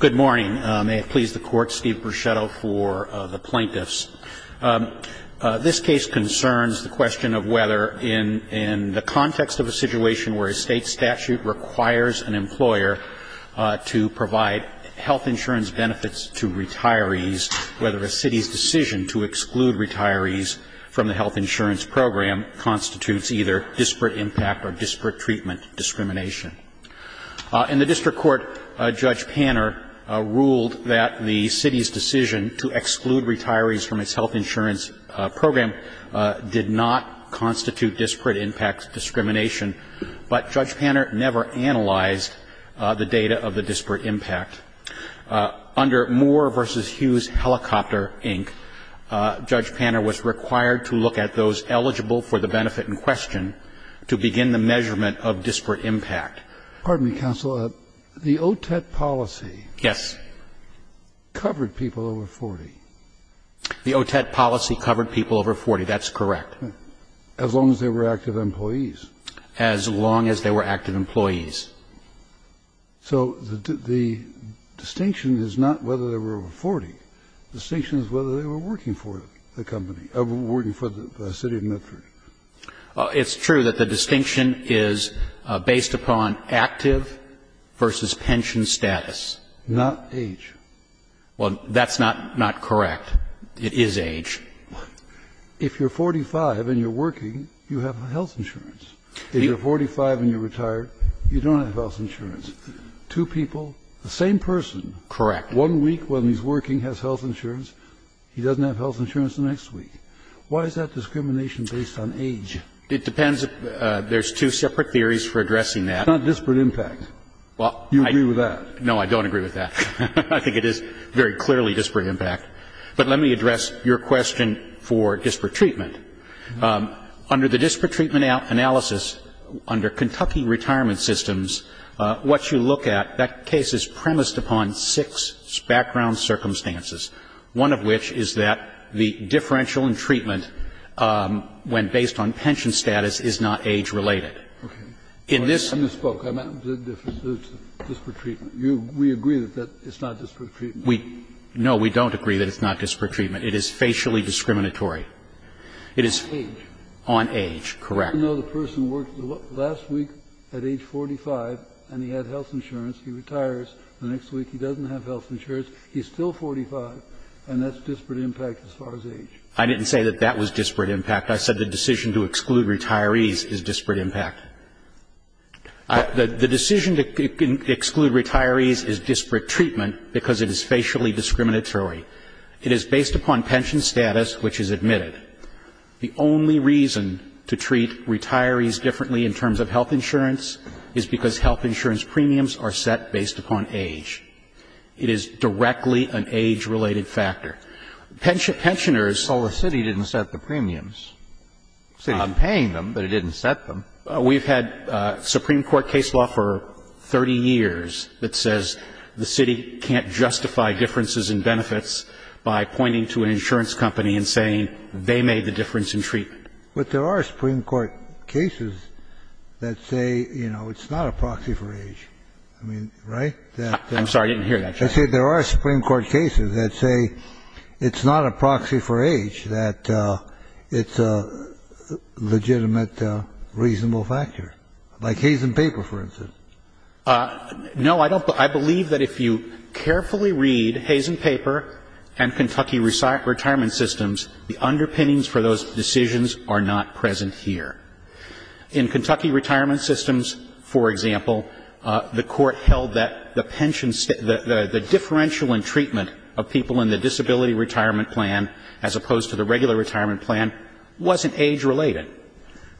Good morning. May it please the Court, Steve Bruschetto for the plaintiffs. This case concerns the question of whether, in the context of a situation where a state statute requires an employer to provide health insurance benefits to retirees, whether a city's decision to exclude retirees from the health insurance program constitutes either disparate impact or disparate treatment discrimination. In the district court, Judge Panner ruled that the city's decision to exclude retirees from its health insurance program did not constitute disparate impact discrimination, but Judge Panner never analyzed the data of the disparate impact. Under Moore v. Hughes Helicopter, Inc., Judge Panner was required to look at those eligible for the benefit in question to begin the measurement of disparate impact. Pardon me, counsel. The OTET policy. Yes. Covered people over 40. The OTET policy covered people over 40. That's correct. As long as they were active employees. As long as they were active employees. So the distinction is not whether they were over 40. The distinction is whether they were working for the company, working for the city of Medford. It's true that the distinction is based upon active versus pension status. Not age. Well, that's not correct. It is age. If you're 45 and you're working, you have health insurance. If you're 45 and you're retired, you don't have health insurance. Two people, the same person. Correct. One week when he's working has health insurance. He doesn't have health insurance the next week. Why is that discrimination based on age? It depends. There's two separate theories for addressing that. It's not disparate impact. You agree with that. No, I don't agree with that. I think it is very clearly disparate impact. But let me address your question for disparate treatment. Under the disparate treatment analysis, under Kentucky Retirement Systems, what you look at, that case is premised upon six background circumstances, one of which is that the differential in treatment, when based on pension status, is not age-related. In this one, we agree that it's not disparate treatment. No, we don't agree that it's not disparate treatment. It is facially discriminatory. It is on age. Correct. No, the person worked last week at age 45 and he had health insurance. He retires. The next week he doesn't have health insurance. He's still 45, and that's disparate impact as far as age. I didn't say that that was disparate impact. I said the decision to exclude retirees is disparate impact. The decision to exclude retirees is disparate treatment because it is facially discriminatory. It is based upon pension status, which is admitted. The only reason to treat retirees differently in terms of health insurance is because health insurance premiums are set based upon age. It is directly an age-related factor. Pensioners --" Well, the city didn't set the premiums. The city's paying them, but it didn't set them. We've had Supreme Court case law for 30 years that says the city can't justify differences in benefits by pointing to an insurance company and saying they made the difference in treatment. But there are Supreme Court cases that say, you know, it's not a proxy for age. I mean, right? I'm sorry. I didn't hear that, Justice. I said there are Supreme Court cases that say it's not a proxy for age, that it's a legitimate, reasonable factor. By case in paper, for instance. No, I don't. I believe that if you carefully read Hayes and Paper and Kentucky Retirement Systems, the underpinnings for those decisions are not present here. In Kentucky Retirement Systems, for example, the Court held that the pension status, the differential in treatment of people in the disability retirement plan as opposed to the regular retirement plan wasn't age-related.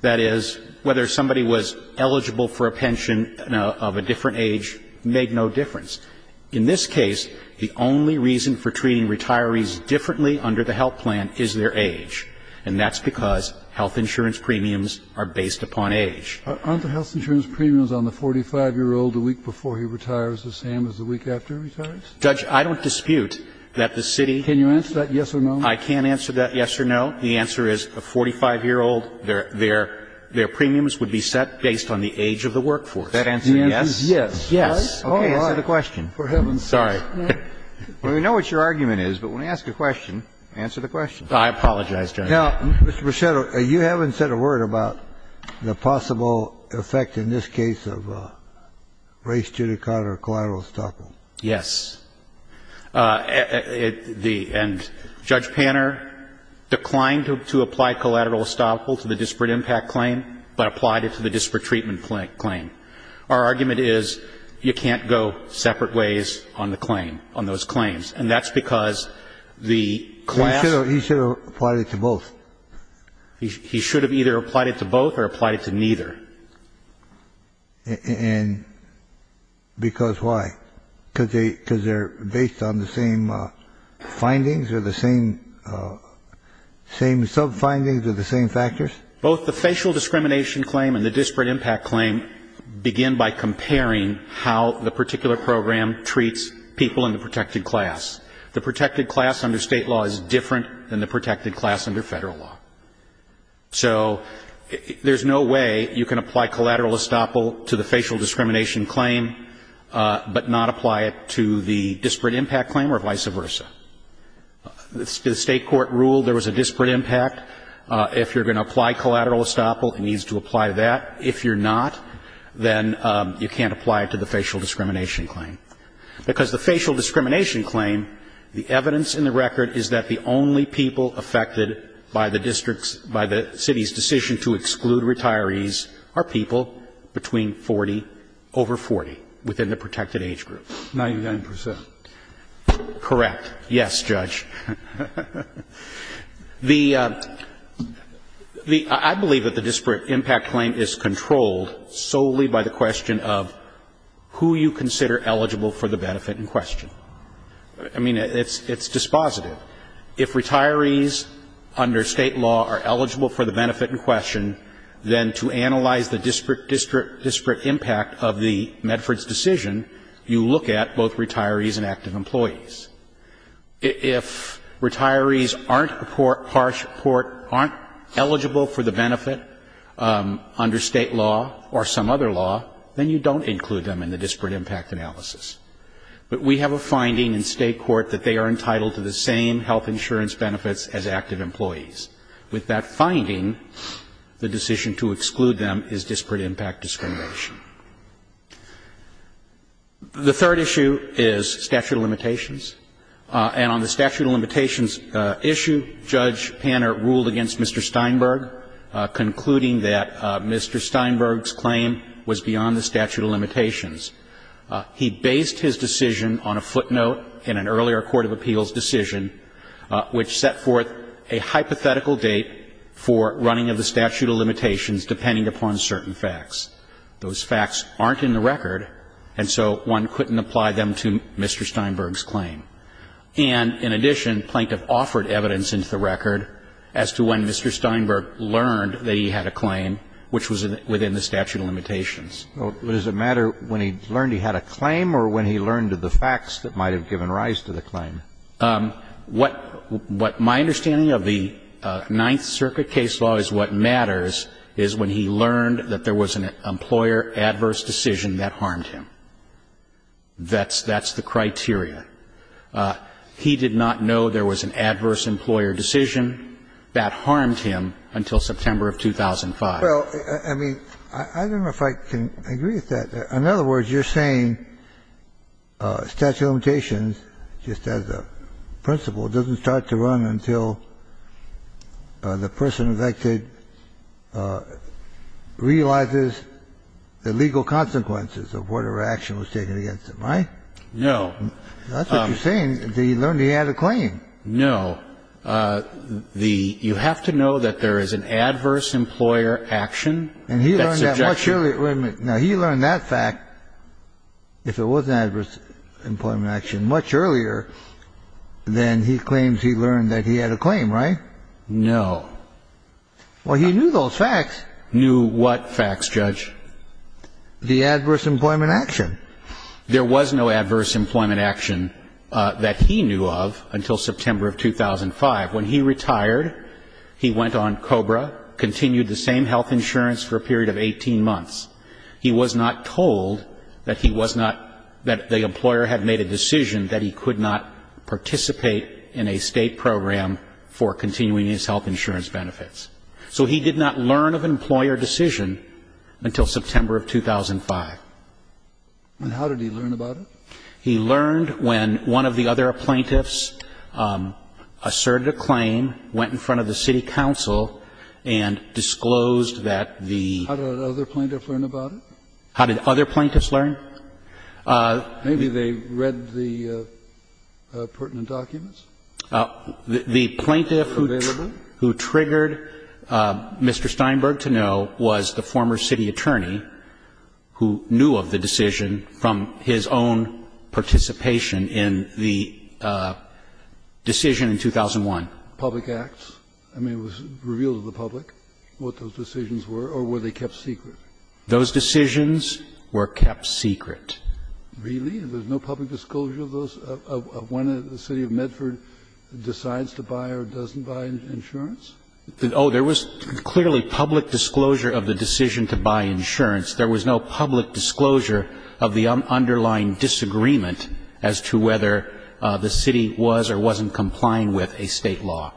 That is, whether somebody was eligible for a pension of a different age made no difference. In this case, the only reason for treating retirees differently under the health plan is their age. And that's because health insurance premiums are based upon age. Aren't the health insurance premiums on the 45-year-old a week before he retires the same as the week after he retires? Judge, I don't dispute that the city Can you answer that yes or no? I can answer that yes or no. The answer is a 45-year-old, their premiums would be set based on the age of the workforce. That answer yes? Yes. Yes. Okay. Answer the question. I'm sorry. Well, we know what your argument is, but when we ask a question, answer the question. I apologize, Judge. Now, Mr. Brichetto, you haven't said a word about the possible effect in this case of race judicata or collateral estoppel. Yes. And Judge Panner declined to apply collateral estoppel to the disparate impact claim, but applied it to the disparate treatment claim. Our argument is you can't go separate ways on the claim, on those claims. And that's because the class He should have applied it to both. He should have either applied it to both or applied it to neither. And because why? Because they're based on the same findings or the same sub-findings or the same factors? Both the facial discrimination claim and the disparate impact claim begin by comparing how the particular program treats people in the protected class. The protected class under State law is different than the protected class under Federal law. So there's no way you can apply collateral estoppel to the facial discrimination claim, but not apply it to the disparate impact claim or vice versa. The State court ruled there was a disparate impact. If you're going to apply collateral estoppel, it needs to apply that. If you're not, then you can't apply it to the facial discrimination claim. Because the facial discrimination claim, the evidence in the record is that the only people affected by the district's, by the city's decision to exclude retirees are people between 40, over 40, within the protected age group. 99 percent. Correct. Yes, Judge. The ‑‑ I believe that the disparate impact claim is controlled solely by the question of who you consider eligible for the benefit in question. I mean, it's dispositive. Well, if retirees under State law are eligible for the benefit in question, then to analyze the disparate impact of the Medford's decision, you look at both retirees and active employees. If retirees aren't a harsh report, aren't eligible for the benefit under State law or some other law, then you don't include them in the disparate impact analysis. But we have a finding in State court that they are entitled to the same health insurance benefits as active employees. With that finding, the decision to exclude them is disparate impact discrimination. The third issue is statute of limitations. And on the statute of limitations issue, Judge Panner ruled against Mr. Steinberg, concluding that Mr. Steinberg's claim was beyond the statute of limitations. He based his decision on a footnote in an earlier court of appeals decision, which set forth a hypothetical date for running of the statute of limitations depending upon certain facts. Those facts aren't in the record, and so one couldn't apply them to Mr. Steinberg's claim. And in addition, Plaintiff offered evidence into the record as to when Mr. Steinberg What does it matter when he learned he had a claim or when he learned of the facts that might have given rise to the claim? What my understanding of the Ninth Circuit case law is what matters is when he learned that there was an employer adverse decision that harmed him. That's the criteria. He did not know there was an adverse employer decision that harmed him until September of 2005. Well, I mean, I don't know if I can agree with that. In other words, you're saying statute of limitations, just as a principle, doesn't start to run until the person affected realizes the legal consequences of whatever action was taken against them, right? No. That's what you're saying, that he learned he had a claim. No. You have to know that there is an adverse employer action. And he learned that much earlier. Wait a minute. Now, he learned that fact, if it was an adverse employment action, much earlier than he claims he learned that he had a claim, right? No. Well, he knew those facts. Knew what facts, Judge? The adverse employment action. There was no adverse employment action that he knew of until September of 2005. When he retired, he went on COBRA, continued the same health insurance for a period of 18 months. He was not told that he was not, that the employer had made a decision that he could not participate in a State program for continuing his health insurance benefits. So he did not learn of an employer decision until September of 2005. And how did he learn about it? He learned when one of the other plaintiffs asserted a claim, went in front of the city council, and disclosed that the other plaintiff learned about it. How did other plaintiffs learn? Maybe they read the pertinent documents. The plaintiff who triggered Mr. Steinberg to know was the former city attorney who knew of the decision from his own participation in the decision in 2001. Public acts? I mean, it was revealed to the public what those decisions were, or were they kept secret? Those decisions were kept secret. Really? There's no public disclosure of those, of when the city of Medford decides to buy or doesn't buy insurance? Oh, there was clearly public disclosure of the decision to buy insurance. There was no public disclosure of the underlying disagreement as to whether the city was or wasn't complying with a State law.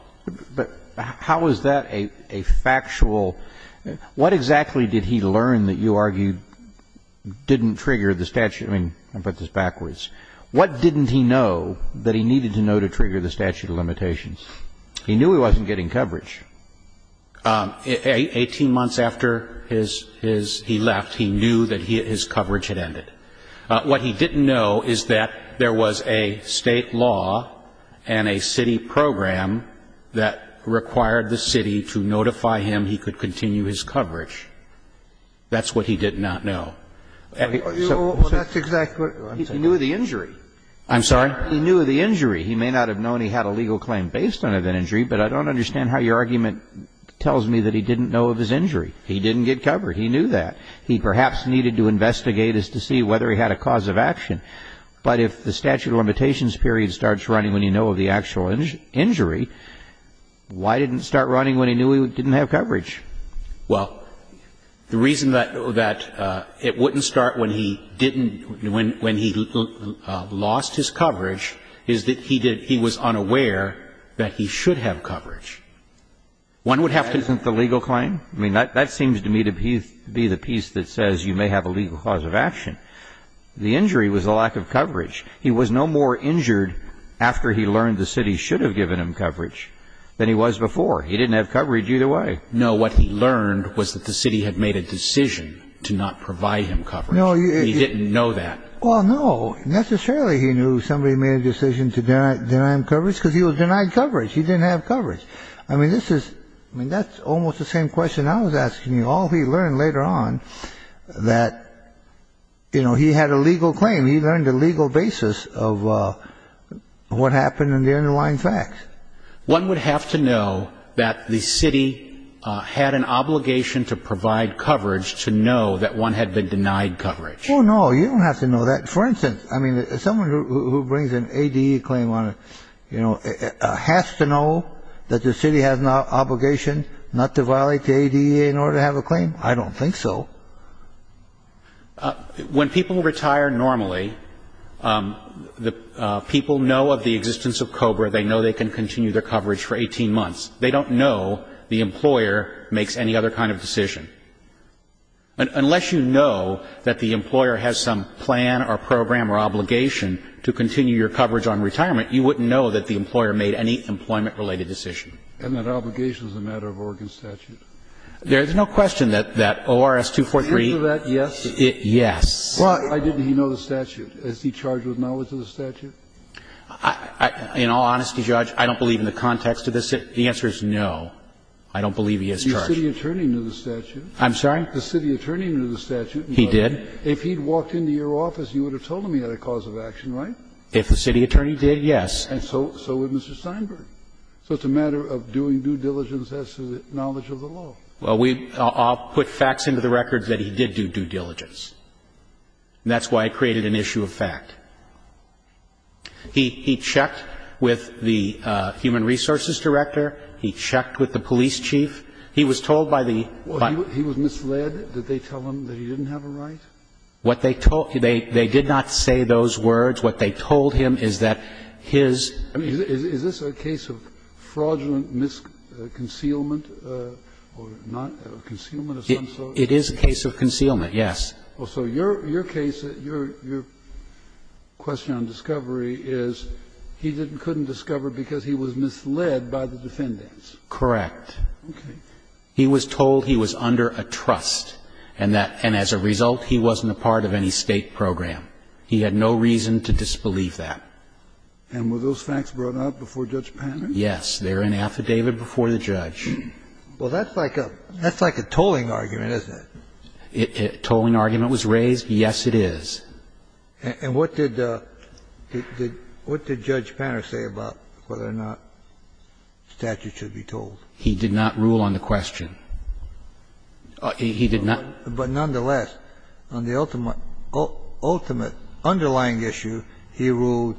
But how is that a factual – what exactly did he learn that you argue didn't trigger the statute? I mean, I'll put this backwards. What didn't he know that he needed to know to trigger the statute of limitations? He knew he wasn't getting coverage. Eighteen months after his – he left, he knew that his coverage had ended. What he didn't know is that there was a State law and a city program that required the city to notify him he could continue his coverage. That's what he did not know. Well, that's exactly what – He knew of the injury. I'm sorry? He knew of the injury. He may not have known he had a legal claim based on an injury, but I don't understand how your argument tells me that he didn't know of his injury. He didn't get coverage. He knew that. He perhaps needed to investigate as to see whether he had a cause of action. But if the statute of limitations period starts running when you know of the actual injury, why didn't it start running when he knew he didn't have coverage? Well, the reason that it wouldn't start when he didn't – when he lost his coverage is that he did – he was unaware that he should have coverage. One would have to – That isn't the legal claim? I mean, that seems to me to be the piece that says you may have a legal cause of action. The injury was a lack of coverage. He was no more injured after he learned the city should have given him coverage than he was before. He didn't have coverage either way. No, what he learned was that the city had made a decision to not provide him coverage. He didn't know that. Well, no, necessarily he knew somebody made a decision to deny him coverage because he was denied coverage. He didn't have coverage. I mean, this is – I mean, that's almost the same question I was asking you. All he learned later on that, you know, he had a legal claim. He learned a legal basis of what happened and the underlying facts. One would have to know that the city had an obligation to provide coverage to know that one had been denied coverage. Oh, no, you don't have to know that. For instance, I mean, someone who brings an ADE claim on, you know, has to know that the city has an obligation not to violate the ADE in order to have a claim? I don't think so. When people retire normally, people know of the existence of COBRA. They know they can continue their coverage for 18 months. They don't know the employer makes any other kind of decision. Unless you know that the employer has some plan or program or obligation to continue your coverage on retirement, you wouldn't know that the employer made any employment related decision. And that obligation is a matter of Oregon statute. There is no question that ORS 243. The answer to that, yes. Yes. Why didn't he know the statute? Is he charged with knowledge of the statute? In all honesty, Judge, I don't believe in the context of this. The answer is no. I don't believe he is charged. Your city attorney knew the statute. I'm sorry? The city attorney knew the statute. He did. If he had walked into your office, you would have told him he had a cause of action, right? If the city attorney did, yes. And so would Mr. Steinberg. So it's a matter of doing due diligence as to the knowledge of the law. Well, we all put facts into the record that he did do due diligence. That's why I created an issue of fact. He checked with the human resources director. He checked with the police chief. He was told by the buyer. He was misled. Did they tell him that he didn't have a right? What they told him, they did not say those words. What they told him is that his. I mean, is this a case of fraudulent misconcealment or not? Concealment of some sort? It is a case of concealment, yes. So your case, your question on discovery is he couldn't discover because he was misled by the defendants. Correct. Okay. He was told he was under a trust, and as a result, he wasn't a part of any State program. He had no reason to disbelieve that. And were those facts brought up before Judge Panner? Yes. They were in an affidavit before the judge. Well, that's like a tolling argument, isn't it? A tolling argument was raised. Yes, it is. And what did Judge Panner say about whether or not statute should be tolled? He did not rule on the question. He did not. But nonetheless, on the ultimate underlying issue, he ruled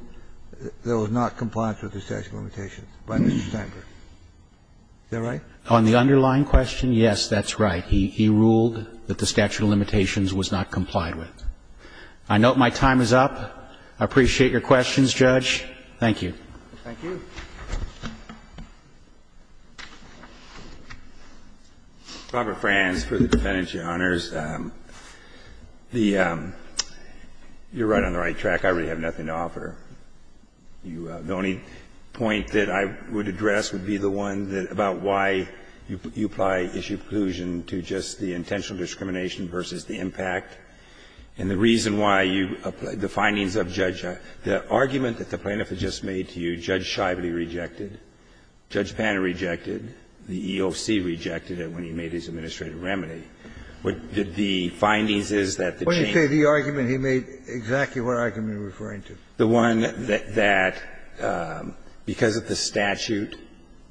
there was not compliance with the statute of limitations by Mr. Stanker. Is that right? On the underlying question, yes, that's right. He ruled that the statute of limitations was not complied with. I note my time is up. I appreciate your questions, Judge. Thank you. Thank you. Robert Franz for the defendants, Your Honors. You're right on the right track. I really have nothing to offer. The only point that I would address would be the one about why you apply issue inclusion to just the intentional discrimination versus the impact. And the reason why you apply the findings of Judge Schiavone. The argument that the plaintiff had just made to you, Judge Schiavone rejected. Judge Panner rejected. The EOC rejected it when he made his administrative remedy. The findings is that the change. When you say the argument, he made exactly what argument you're referring to. The one that because of the statute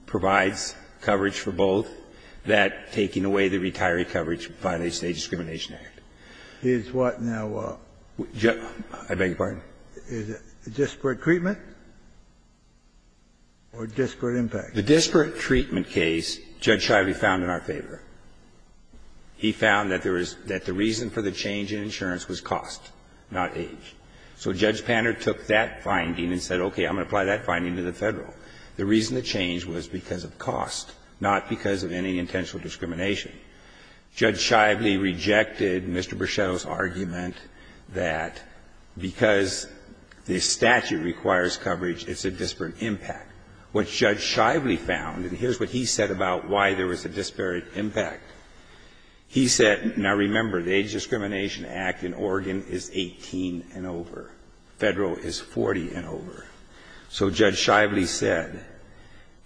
provides coverage for both, that taking away the retiree coverage would violate the State Discrimination Act. Is what now? I beg your pardon? Is it disparate treatment or disparate impact? The disparate treatment case, Judge Schiavone found in our favor. He found that there was the reason for the change in insurance was cost, not age. So Judge Panner took that finding and said, okay, I'm going to apply that finding to the Federal. The reason the change was because of cost, not because of any intentional discrimination. Judge Schiavone rejected Mr. Bruschetto's argument that because the statute requires coverage, it's a disparate impact. What Judge Schiavone found, and here's what he said about why there was a disparate impact. He said, now remember, the Age Discrimination Act in Oregon is 18 and over. Federal is 40 and over. So Judge Schiavone said,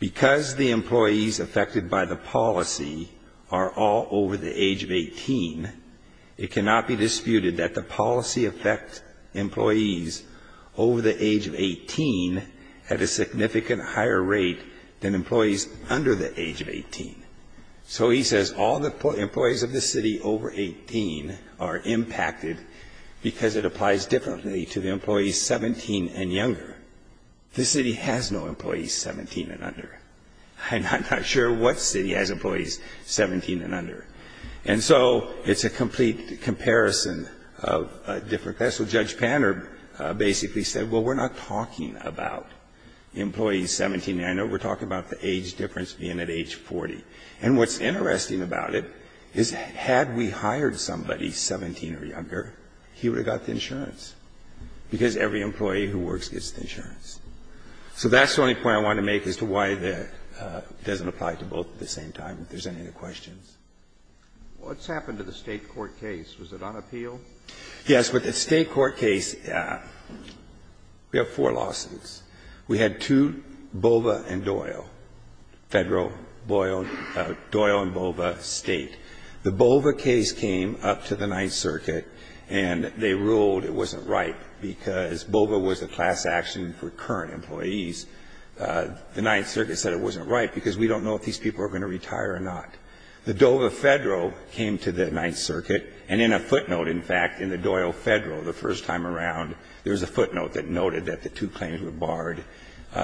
because the employees affected by the policy are all over the age of 18, it cannot be disputed that the policy affects employees over the age of 18 at a significant higher rate than employees under the age of 18. So he says, all the employees of the city over 18 are impacted because it applies differently to the employees 17 and younger. This city has no employees 17 and under. I'm not sure what city has employees 17 and under. And so it's a complete comparison of different things. So Judge Panner basically said, well, we're not talking about employees 17 and under. We're talking about the age difference being at age 40. And what's interesting about it is had we hired somebody 17 or younger, he would have got the insurance, because every employee who works gets the insurance. So that's the only point I want to make as to why it doesn't apply to both at the same time, if there's any other questions. Roberts. What's happened to the State court case? Was it on appeal? Yes, but the State court case, we have four lawsuits. We had two, Bova and Doyle, Federal, Doyle and Bova State. The Bova case came up to the Ninth Circuit, and they ruled it wasn't right because Bova was a class action for current employees. The Ninth Circuit said it wasn't right because we don't know if these people are going to retire or not. The Dova Federal came to the Ninth Circuit, and in a footnote, in fact, in the Doyle Federal, the first time around, there was a footnote that noted that the two claims were barred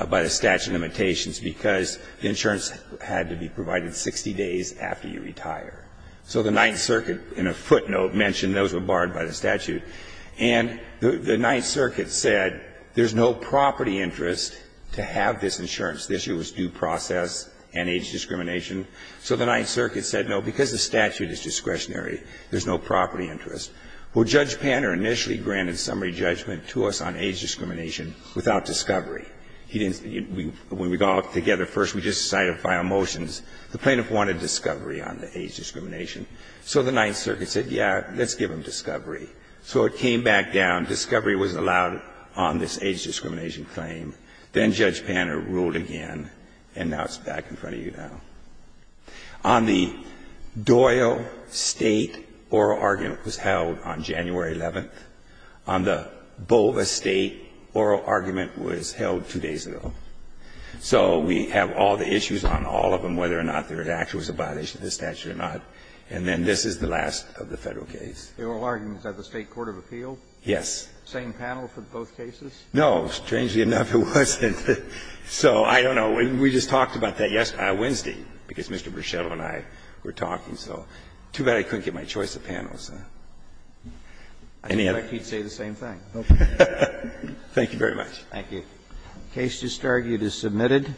by the statute of limitations because the insurance had to be provided 60 days after you retire. So the Ninth Circuit, in a footnote, mentioned those were barred by the statute. And the Ninth Circuit said there's no property interest to have this insurance. The issue was due process and age discrimination. So the Ninth Circuit said, no, because the statute is discretionary, there's no property interest. Well, Judge Panner initially granted summary judgment to us on age discrimination without discovery. He didn't see it. When we got together first, we just decided to file motions. The plaintiff wanted discovery on the age discrimination. So the Ninth Circuit said, yeah, let's give him discovery. So it came back down. Discovery was allowed on this age discrimination claim. Then Judge Panner ruled again, and now it's back in front of you now. On the Doyle State oral argument, it was held on January 11th. On the Bova State oral argument, it was held two days ago. So we have all the issues on all of them, whether or not there was actually a violation of the statute or not. And then this is the last of the Federal case. The oral argument, is that the State court of appeal? Yes. Same panel for both cases? No. Strangely enough, it wasn't. So I don't know. We just talked about that yesterday, Wednesday, because Mr. Bruschetto and I were talking. So too bad I couldn't get my choice of panelists. Any other? I think he'd say the same thing. Thank you very much. Thank you. The case just argued is submitted.